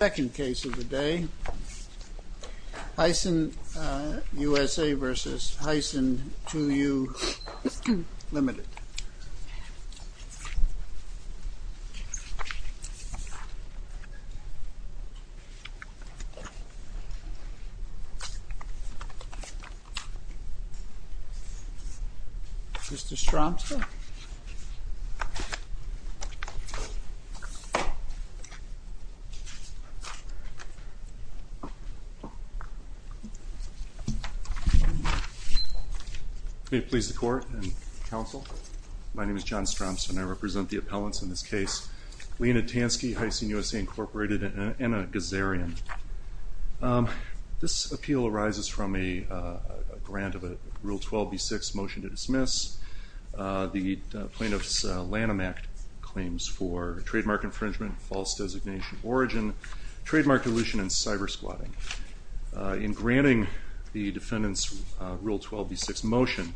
Second case of the day, Hyson USA v. Hyson 2U, Ltd. Mr. Stromson? May it please the Court and Counsel, my name is John Stromson and I represent the appellants in this case, Lena Tansky, Hyson USA Inc., and Anna Gazarian. This appeal arises from a grant of a Rule 12b-6 motion to dismiss the plaintiff's Lanham Act claims for trademark infringement, false designation of origin, trademark dilution and cyber squatting. In granting the defendant's Rule 12b-6 motion,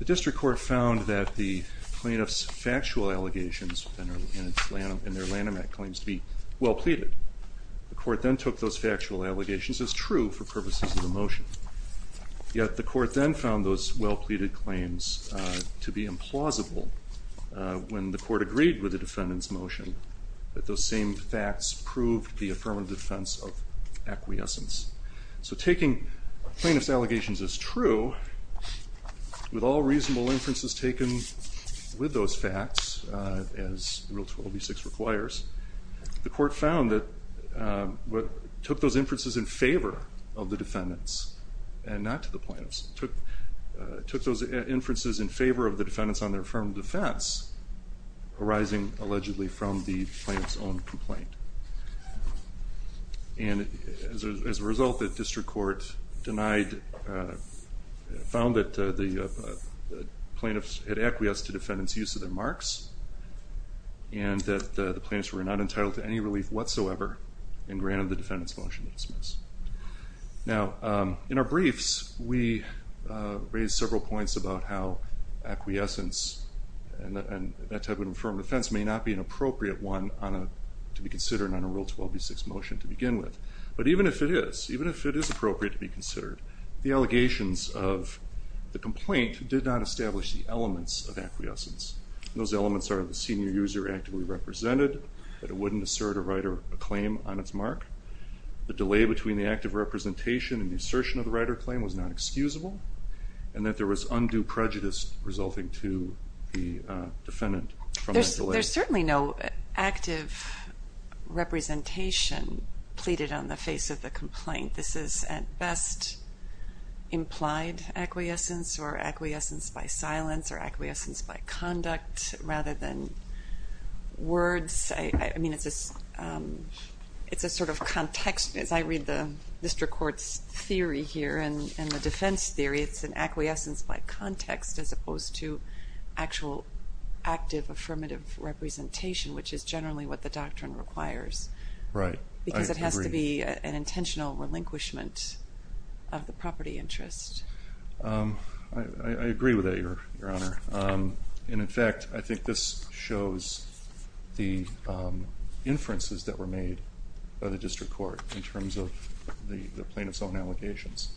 the District Court found that the plaintiff's factual allegations in their Lanham Act claims to be well pleaded. The Court then took those factual allegations as true for purposes of the motion, yet the Court then found those well pleaded claims to be implausible when the Court agreed with the defendant's motion that those same facts proved the affirmative defense of acquiescence. So taking plaintiff's allegations as true, with all reasonable inferences taken with those facts, as Rule 12b-6 requires, the Court found that it took those inferences in favor of the defendant's, and not to the plaintiff's, took those inferences in favor of the defendant's on their affirmative defense, arising allegedly from the plaintiff's own complaint. And as a result the District Court denied, found that the plaintiff's had acquiesced to the defendant's use of their marks, and that the plaintiff's were not entitled to any relief whatsoever, and granted the defendant's motion to dismiss. Now in our briefs we raise several points about how acquiescence and that type of affirmative defense may not be an appropriate one to be considered on a Rule 12b-6 motion to begin with. But even if it is, even if it is appropriate to be considered, the allegations of the complaint did not establish the elements of acquiescence. Those elements are the senior user actively represented, that it wouldn't assert a right or a claim on its mark, the delay between the act of representation and the assertion of the right or claim was not excusable, and that there was undue prejudice resulting to the defendant from that delay. There's certainly no active representation pleaded on the face of the complaint. I think this is at best implied acquiescence, or acquiescence by silence, or acquiescence by conduct, rather than words. I mean it's a sort of context, as I read the District Court's theory here, and the defense theory, it's an acquiescence by context as opposed to actual active affirmative representation, which is generally what the doctrine requires. Right. I agree. It seems to me to be an intentional relinquishment of the property interest. I agree with that, Your Honor, and in fact I think this shows the inferences that were made by the District Court in terms of the plaintiff's own allegations,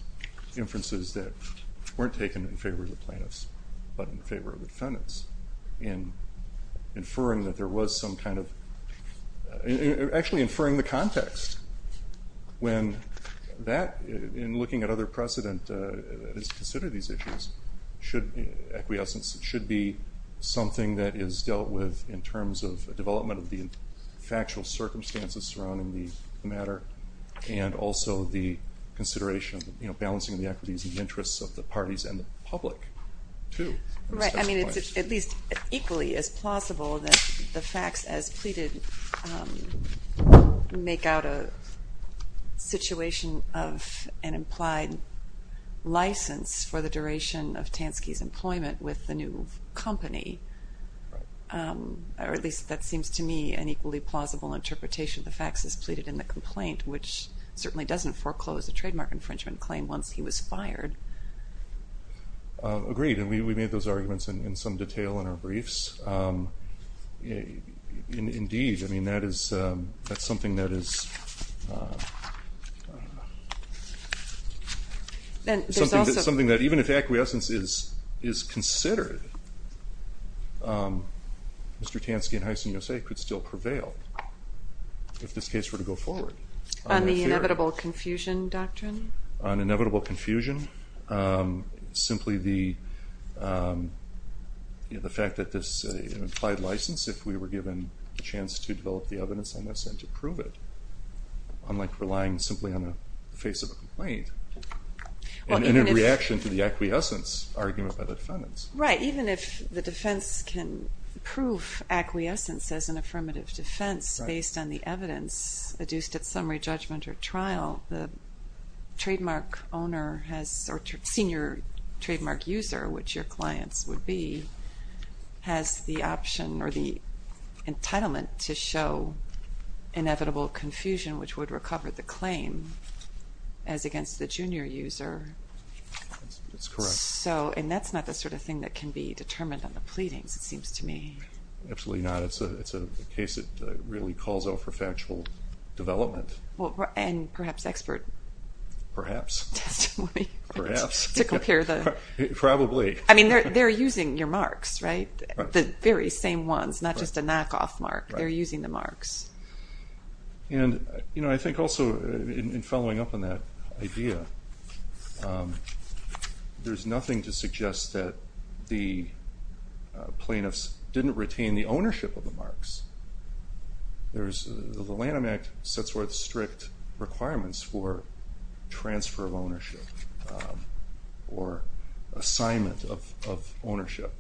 inferences that weren't taken in favor of the plaintiffs, but in favor of the defendants, in inferring that there was some kind of, actually inferring the context. When that, in looking at other precedent that is considered these issues, acquiescence should be something that is dealt with in terms of the development of the factual circumstances surrounding the matter, and also the consideration of balancing the equities and interests of the parties and the public, too. Right. I mean, it's at least equally as plausible that the facts as pleaded make out a situation of an implied license for the duration of Tansky's employment with the new company, or at least that seems to me an equally plausible interpretation of the facts as pleaded in the complaint, which certainly doesn't foreclose a trademark infringement claim once he was fired. Agreed. Agreed. And we made those arguments in some detail in our briefs. Indeed, I mean, that is, that's something that is, something that even if acquiescence is considered, Mr. Tansky and Hyson USA could still prevail if this case were to go forward. On the inevitable confusion doctrine? On inevitable confusion? Simply the fact that this implied license, if we were given a chance to develop the evidence on this and to prove it, unlike relying simply on the face of a complaint and a reaction to the acquiescence argument by the defendants. Right. Even if the defense can prove acquiescence as an affirmative defense based on the evidence adduced at summary judgment or trial, the trademark owner has, or senior trademark user, which your clients would be, has the option or the entitlement to show inevitable confusion, which would recover the claim as against the junior user. That's correct. So, and that's not the sort of thing that can be determined on the pleadings, it seems to me. Absolutely not. It's a case that really calls out for factual development. And perhaps expert testimony. Perhaps. Perhaps. To compare the... Probably. I mean, they're using your marks, right? The very same ones, not just a knockoff mark, they're using the marks. And I think also in following up on that idea, there's nothing to suggest that the plaintiffs didn't retain the ownership of the marks. The Lanham Act sets forth strict requirements for transfer of ownership or assignment of ownership.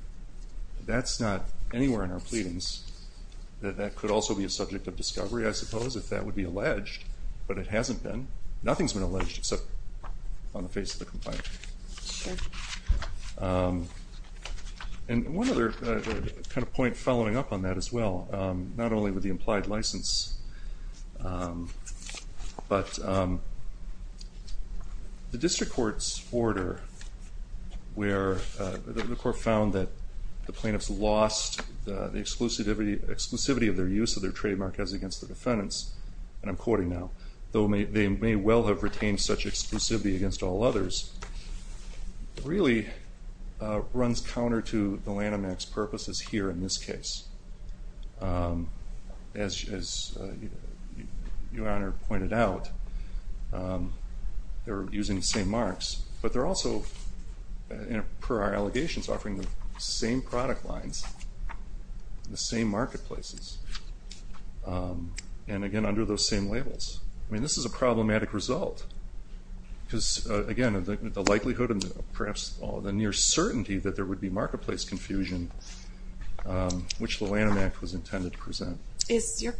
That's not anywhere in our pleadings. That could also be a subject of discovery, I suppose, if that would be alleged, but it hasn't been. Nothing's been alleged except on the face of the complaint. Sure. And one other kind of point following up on that as well, not only with the implied license, but the district court's order where the court found that the plaintiffs lost the exclusivity of their use of their trademark as against the defendants, and I'm quoting now, though they may well have retained such exclusivity against all others, really runs counter to the Lanham Act's purposes here in this case. As Your Honor pointed out, they're using the same marks, but they're also, per our allegations, offering the same product lines, the same marketplaces, and again, under those same labels. I mean, this is a problematic result, because again, the likelihood and perhaps the near certainty that there would be marketplace confusion, which the Lanham Act was intended to present. Is your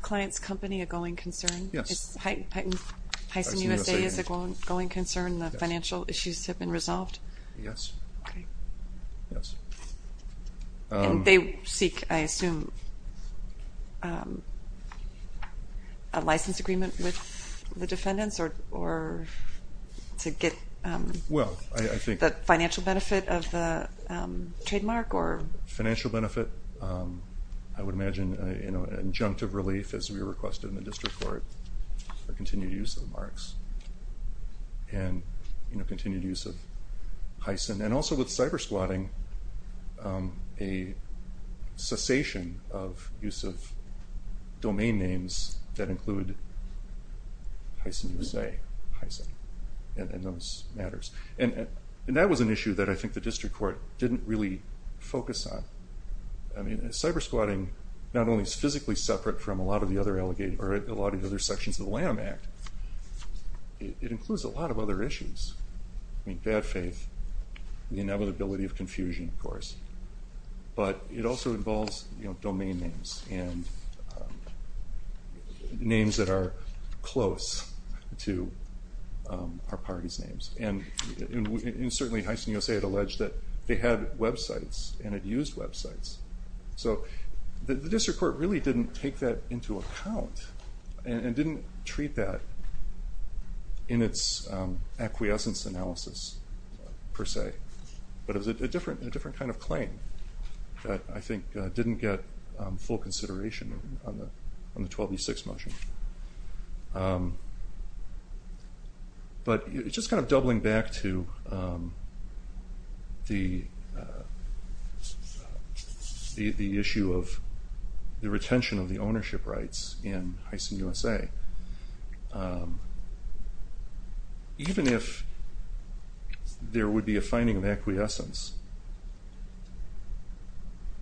client's company a going concern? Yes. Is Heysen USA a going concern, the financial issues have been resolved? Yes. Okay. Yes. And they seek, I assume, a license agreement with the defendants, or to get the financial benefit of the trademark, or? Financial benefit, I would imagine an injunctive relief, as we requested in the district court, for continued use of the marks, and continued use of Heysen. And also with cybersquatting, a cessation of use of domain names that include Heysen USA, Heysen, and those matters. And that was an issue that I think the district court didn't really focus on. I mean, cybersquatting, not only is physically separate from a lot of the other sections of the Lanham Act, it includes a lot of other issues. I mean, bad faith, the inevitability of confusion, of course. But it also involves domain names, and names that are close to our party's names. And certainly Heysen USA had alleged that they had websites, and had used websites. So the district court really didn't take that into account, and didn't treat that in its acquiescence analysis, per se. But it was a different kind of claim that I think didn't get full consideration on the 12v6 motion. But just kind of doubling back to the issue of the retention of the ownership rights in Even if there would be a finding of acquiescence,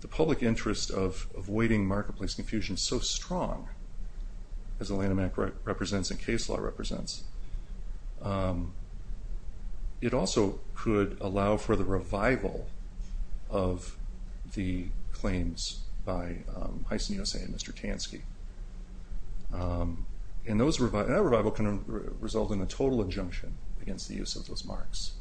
the public interest of avoiding marketplace confusion is so strong, as the Lanham Act represents and case law represents. It also could allow for the revival of the claims by Heysen USA and Mr. Tansky. And that revival can result in a total injunction against the use of those marks.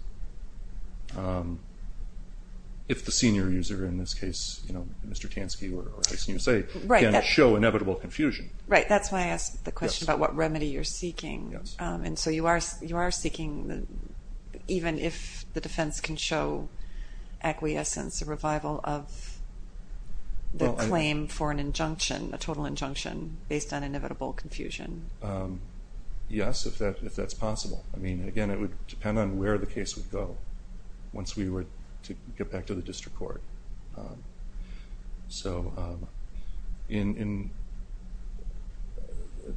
If the senior user, in this case Mr. Tansky or Heysen USA, can show inevitable confusion. Right, that's why I asked the question about what remedy you're seeking. And so you are seeking, even if the defense can show acquiescence, a revival of the claim for an injunction, a total injunction, based on inevitable confusion? Yes, if that's possible. I mean, again, it would depend on where the case would go once we were to get back to the district court. So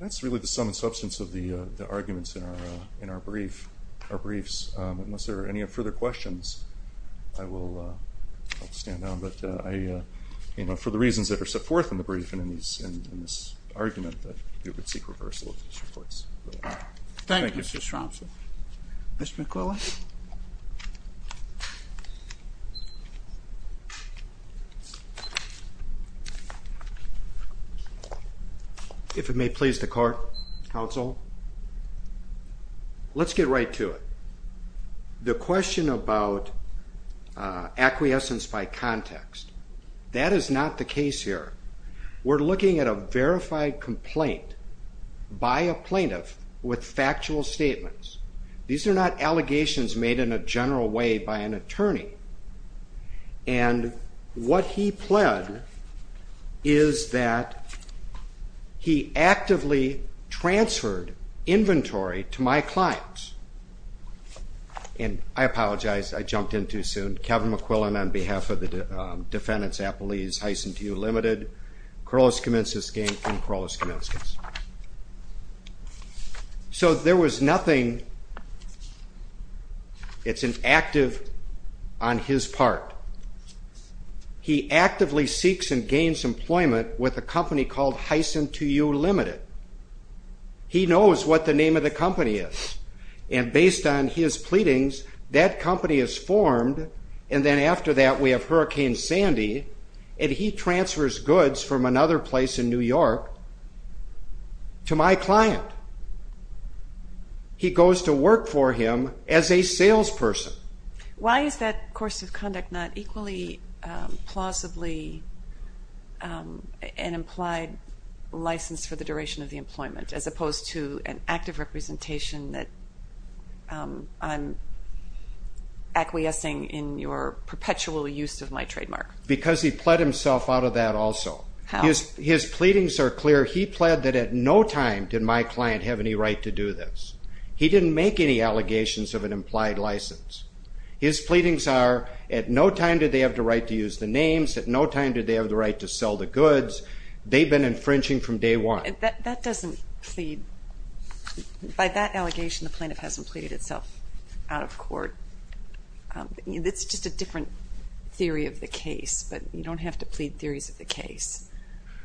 that's really the sum and substance of the arguments in our briefs. Unless there are any further questions, I will stand down, but for the reasons that were set forth in the brief and in this argument, we would seek reversal of the district courts. Thank you, Mr. Stromson. Mr. McCullough? If it may please the court, counsel, let's get right to it. The question about acquiescence by context, that is not the case here. We're looking at a verified complaint by a plaintiff with factual statements. These are not allegations made in a general way by an attorney, and what he pled is that he actively transferred inventory to my clients, and I apologize, I jumped in too soon, Kevin McQuillan on behalf of the defendants, Appalese Heisen to you limited, Corollas Comensus gang from Corollas Comensus. So there was nothing, it's an active on his part. He actively seeks and gains employment with a company called Heisen to you limited. He knows what the name of the company is, and based on his pleadings, that company is formed, and then after that we have Hurricane Sandy, and he transfers goods from another place in New York to my client. He goes to work for him as a salesperson. Why is that course of conduct not equally plausibly an implied license for the duration of the employment, as opposed to an active representation that I'm acquiescing in your perpetual use of my trademark? Because he pled himself out of that also. His pleadings are clear. He pled that at no time did my client have any right to do this. He didn't make any allegations of an implied license. His pleadings are, at no time did they have the right to use the names, at no time did they have the right to sell the goods, they've been infringing from day one. That doesn't plead, by that allegation the plaintiff hasn't pleaded itself out of court. It's just a different theory of the case, but you don't have to plead theories of the case.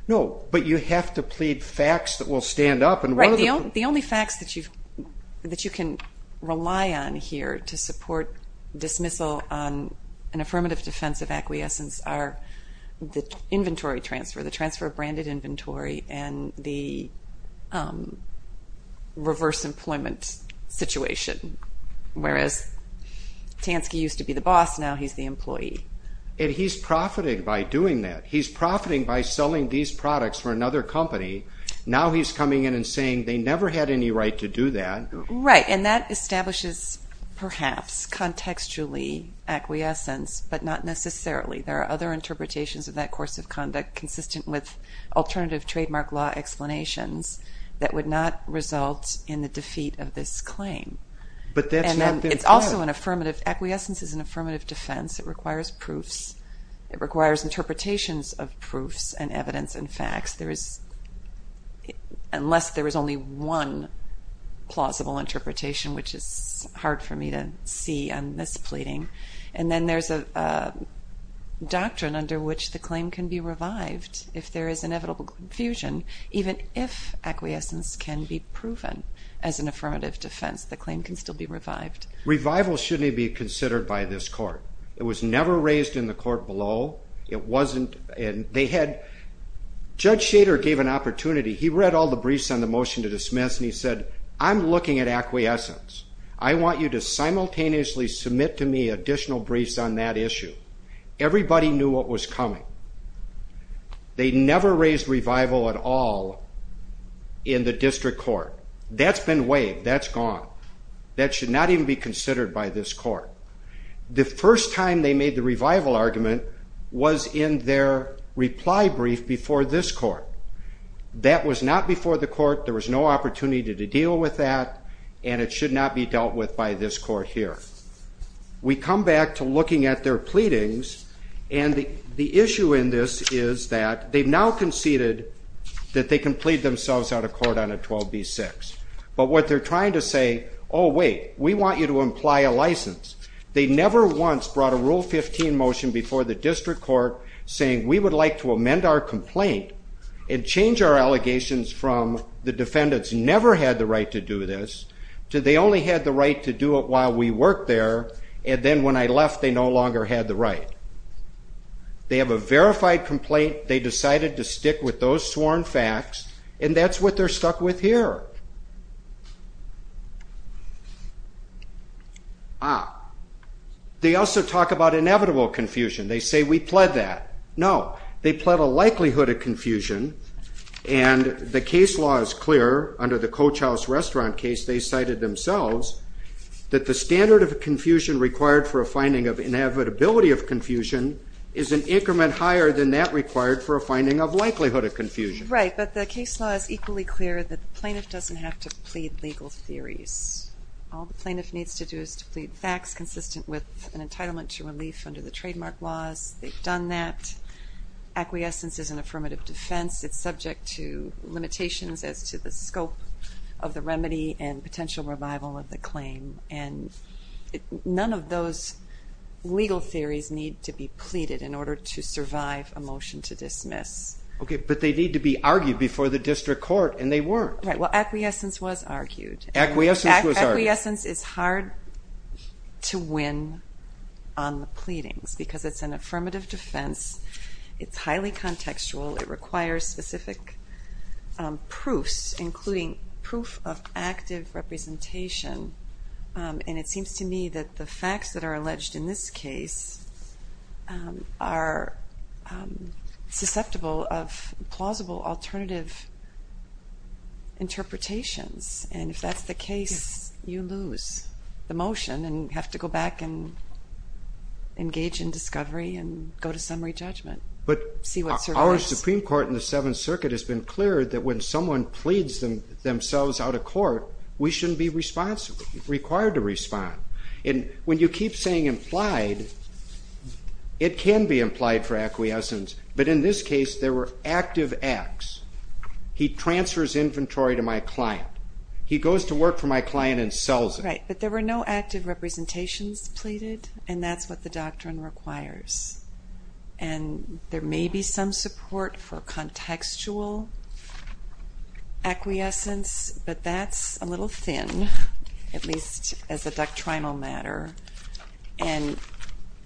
No, but you have to plead facts that will stand up. The only facts that you can rely on here to support dismissal on an affirmative defense of acquiescence are the inventory transfer, the transfer of branded inventory, and the reverse employment situation, whereas Tansky used to be the boss, now he's the employee. He's profiting by doing that. He's profiting by selling these products for another company. Now he's coming in and saying they never had any right to do that. Right, and that establishes, perhaps, contextually acquiescence, but not necessarily. There are other interpretations of that course of conduct consistent with alternative trademark law explanations that would not result in the defeat of this claim. But that's not been proved. Acquiescence is an affirmative defense, it requires proofs, it requires interpretations of proofs and evidence and facts. There is, unless there is only one plausible interpretation, which is hard for me to see on this pleading, and then there's a doctrine under which the claim can be revived if there is inevitable confusion. Even if acquiescence can be proven as an affirmative defense, the claim can still be revived. Revival shouldn't be considered by this court. It was never raised in the court below. It wasn't, and they had, Judge Shader gave an opportunity, he read all the briefs on the motion to dismiss and he said, I'm looking at acquiescence. I want you to simultaneously submit to me additional briefs on that issue. Everybody knew what was coming. They never raised revival at all in the district court. That's been waived, that's gone. That should not even be considered by this court. The first time they made the revival argument was in their reply brief before this court. That was not before the court, there was no opportunity to deal with that, and it should not be dealt with by this court here. We come back to looking at their pleadings, and the issue in this is that they've now conceded that they can plead themselves out of court on a 12b-6. But what they're trying to say, oh wait, we want you to imply a license. They never once brought a Rule 15 motion before the district court saying we would like to amend our complaint and change our allegations from the defendants never had the right to do this to they only had the right to do it while we worked there, and then when I left they no longer had the right. They have a verified complaint, they decided to stick with those sworn facts, and that's what they're stuck with here. Ah, they also talk about inevitable confusion. They say we pled that. No, they pled a likelihood of confusion, and the case law is clear under the Coach House Restaurant case they cited themselves that the standard of confusion required for a finding of inevitability of confusion is an increment higher than that required for a finding of likelihood of confusion. Right, but the case law is equally clear that the plaintiff doesn't have to plead legal theories. All the plaintiff needs to do is to plead facts consistent with an entitlement to relief under the trademark laws, they've done that. Acquiescence is an affirmative defense, it's subject to limitations as to the scope of the remedy and potential revival of the claim, and none of those legal theories need to be pleaded in order to survive a motion to dismiss. Okay, but they need to be argued before the district court, and they weren't. Right, well acquiescence was argued. Acquiescence was argued. Acquiescence is hard to win on the pleadings because it's an affirmative defense, it's highly contextual, it requires specific proofs, including proof of active representation, and it seems to me that the facts that are alleged in this case are susceptible of plausible alternative interpretations, and if that's the case, you lose the motion and have to go back and engage in discovery and go to summary judgment. But our Supreme Court in the Seventh Circuit has been clear that when someone pleads themselves out of court, we shouldn't be responsible, required to respond. And when you keep saying implied, it can be implied for acquiescence, but in this case there were active acts. He transfers inventory to my client. He goes to work for my client and sells it. Right, but there were no active representations pleaded, and that's what the doctrine requires. And there may be some support for contextual acquiescence, but that's a little thin, at least as a doctrinal matter, and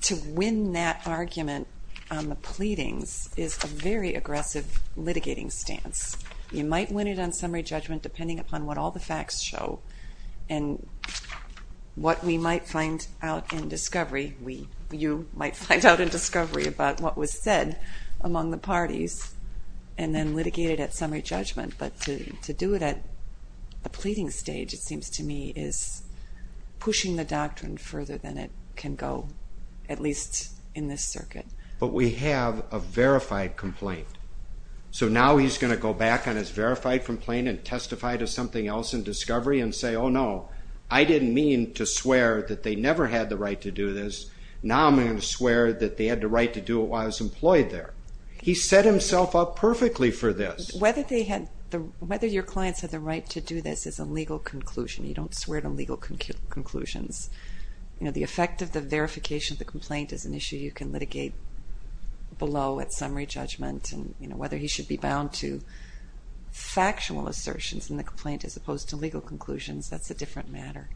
to win that argument on the pleadings is a very aggressive litigating stance. You might win it on summary judgment depending upon what all the facts show, and what we might find out in discovery about what was said among the parties, and then litigate it at summary judgment, but to do it at the pleading stage, it seems to me, is pushing the doctrine further than it can go, at least in this circuit. But we have a verified complaint, so now he's going to go back on his verified complaint and testify to something else in discovery and say, oh no, I didn't mean to swear that they never had the right to do this. Now I'm going to swear that they had the right to do it while I was employed there. He set himself up perfectly for this. Whether your clients had the right to do this is a legal conclusion. You don't swear to legal conclusions. The effect of the verification of the complaint is an issue you can litigate below at summary judgment, and whether he should be bound to factual assertions in the complaint as opposed to legal conclusions, that's a different matter.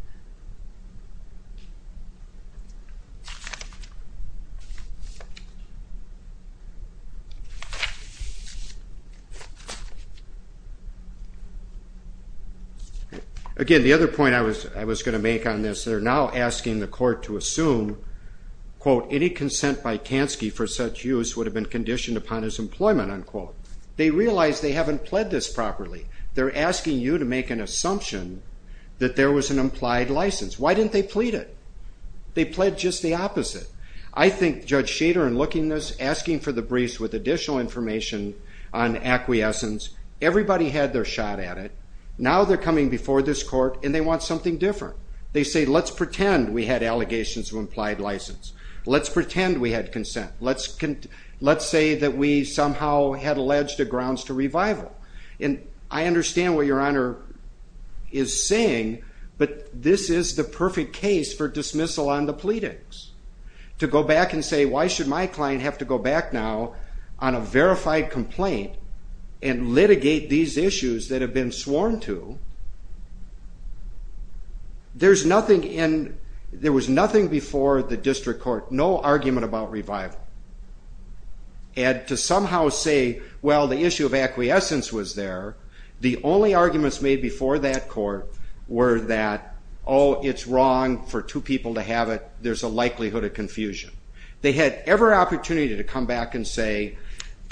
Again, the other point I was going to make on this, they're now asking the court to assume, quote, any consent by Kansky for such use would have been conditioned upon his employment, unquote. They realize they haven't pled this properly. They're asking you to make an assumption that there was an implied license. Why didn't they plead it? They pled just the opposite. I think Judge Schader in looking this, asking for the briefs with additional information on acquiescence, everybody had their shot at it. Now they're coming before this court and they want something different. They say, let's pretend we had allegations of implied license. Let's pretend we had consent. Let's say that we somehow had alleged the grounds to revival. I understand what your honor is saying, but this is the perfect case for dismissal on the pleadings. To go back and say, why should my client have to go back now on a verified complaint and litigate these issues that have been sworn to, there was nothing before the district court, no argument about revival. And to somehow say, well, the issue of acquiescence was there. The only arguments made before that court were that, oh, it's wrong for two people to have it. There's a likelihood of confusion. They had every opportunity to come back and say,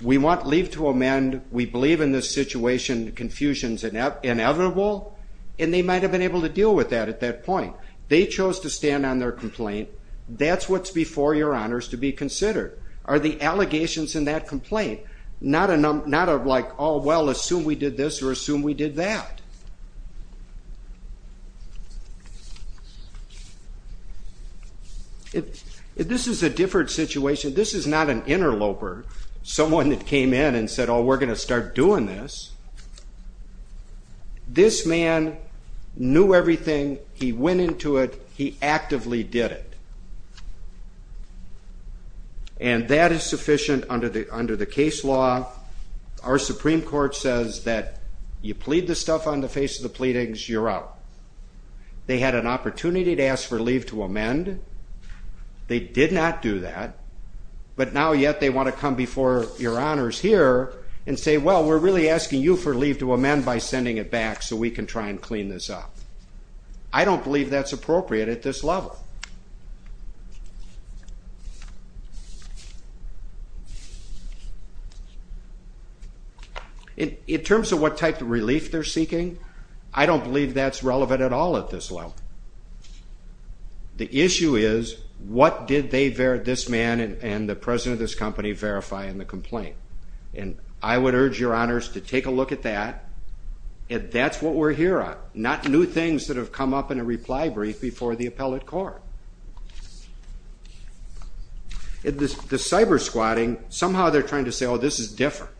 we want leave to amend. We believe in this situation, confusion's inevitable, and they might have been able to deal with that at that point. They chose to stand on their complaint. That's what's before your honors to be considered, are the allegations in that complaint. Not a, like, oh, well, assume we did this or assume we did that. This is a different situation. This is not an interloper, someone that came in and said, oh, we're going to start doing this. This man knew everything. He went into it. He actively did it. And that is sufficient under the case law. Our Supreme Court says that you plead the stuff on the face of the pleadings, you're out. They had an opportunity to ask for leave to amend. They did not do that. But now yet they want to come before your honors here and say, well, we're really asking you for leave to amend by sending it back so we can try and clean this up. I don't believe that's appropriate. At this level, in terms of what type of relief they're seeking, I don't believe that's relevant at all at this level. The issue is what did they, this man and the president of this company, verify in the complaint? And I would urge your honors to take a look at that. That's what we're here on. Not new things that have come up in a reply brief before the appellate court. The cyber squatting, somehow they're trying to say, oh, this is different.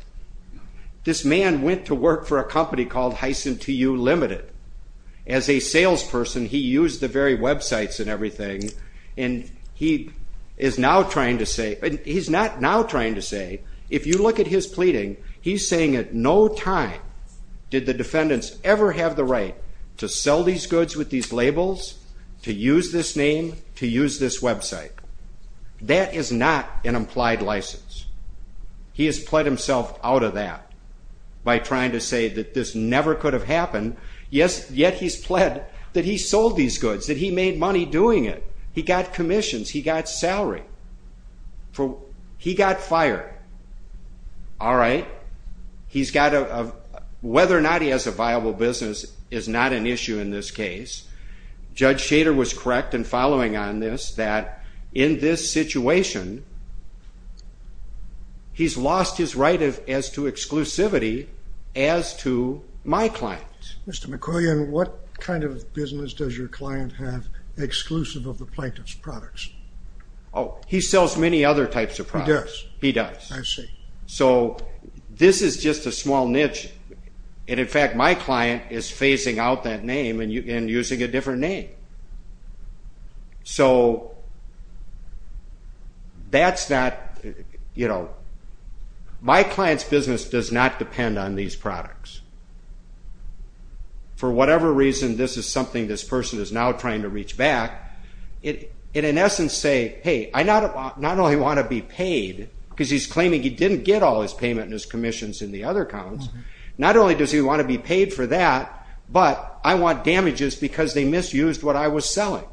This man went to work for a company called Hyson TU Limited. As a salesperson, he used the very websites and everything, and he is now trying to say, he's not now trying to say, if you look at his pleading, he's saying at no time did the sell these goods with these labels, to use this name, to use this website. That is not an implied license. He has pled himself out of that by trying to say that this never could have happened, yet he's pled that he sold these goods, that he made money doing it. He got commissions. He got salary. He got fired. All right. He's got a, whether or not he has a viable business is not an issue in this case. Judge Shader was correct in following on this, that in this situation, he's lost his right as to exclusivity as to my clients. Mr. McQuillian, what kind of business does your client have exclusive of the plaintiff's products? Oh, he sells many other types of products. He does. He does. I see. So this is just a small niche, and in fact, my client is phasing out that name and using a different name. So that's not, you know, my client's business does not depend on these products. For whatever reason, this is something this person is now trying to reach back, and in want to be paid, because he's claiming he didn't get all his payment and his commissions in the other accounts. Not only does he want to be paid for that, but I want damages because they misused what I was selling.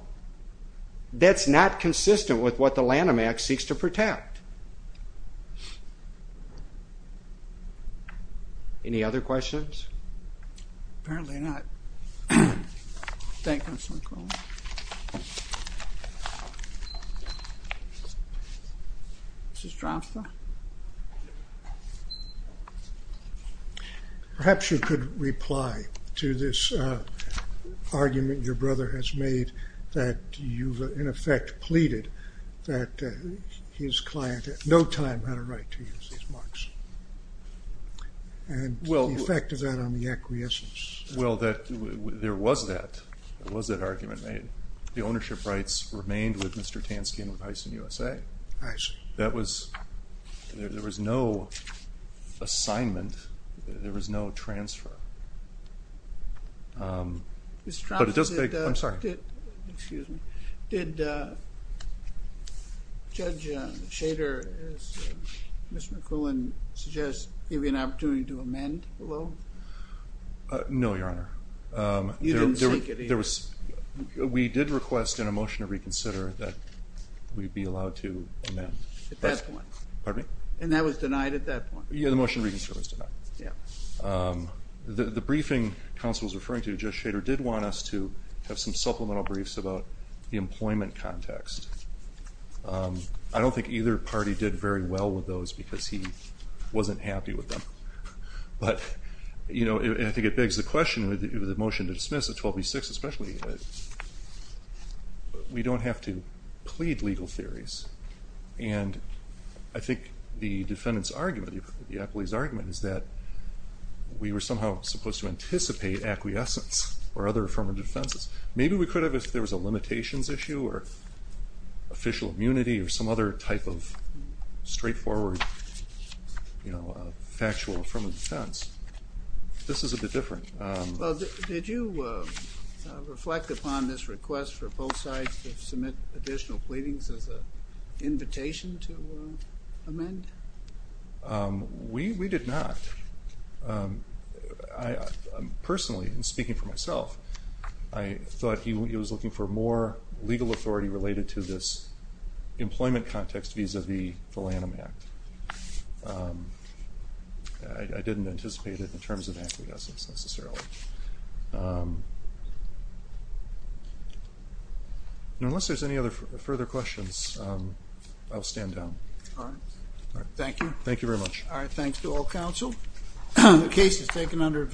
That's not consistent with what the Lanham Act seeks to protect. Any other questions? Apparently not. Thank you, Mr. McQuillian. Mr. Stroud, sir? Perhaps you could reply to this argument your brother has made that you've, in effect, pleaded that his client at no time had a right to use these marks, and the effect of that on the acquiescence. Well, there was that. There was that argument made. The ownership rights remained with Mr. Tansky and with Heisen USA. That was, there was no assignment, there was no transfer. Mr. Stroud, did Judge Shader, as Mr. McQuillian suggests, give you an opportunity to amend below? No. No, Your Honor. You didn't seek it either? There was, we did request in a motion to reconsider that we be allowed to amend. At that point. Pardon me? And that was denied at that point? Yeah, the motion to reconsider was denied. The briefing counsel was referring to, Judge Shader did want us to have some supplemental briefs about the employment context. I don't think either party did very well with those because he wasn't happy with them. But, you know, I think it begs the question, with the motion to dismiss at 12B6 especially, we don't have to plead legal theories. And I think the defendant's argument, the appellee's argument, is that we were somehow supposed to anticipate acquiescence or other affirmative defenses. Maybe we could have if there was a limitations issue or official immunity or some other type of straightforward, you know, factual affirmative defense. This is a bit different. Well, did you reflect upon this request for both sides to submit additional pleadings as an invitation to amend? We did not. Personally, and speaking for myself, I thought he was looking for more legal authority related to this employment context vis-a-vis the Lanham Act. I didn't anticipate it in terms of acquiescence necessarily. Unless there's any other further questions, I'll stand down. All right. Thank you. Thank you very much. All right. Thanks to all counsel. The case is taken under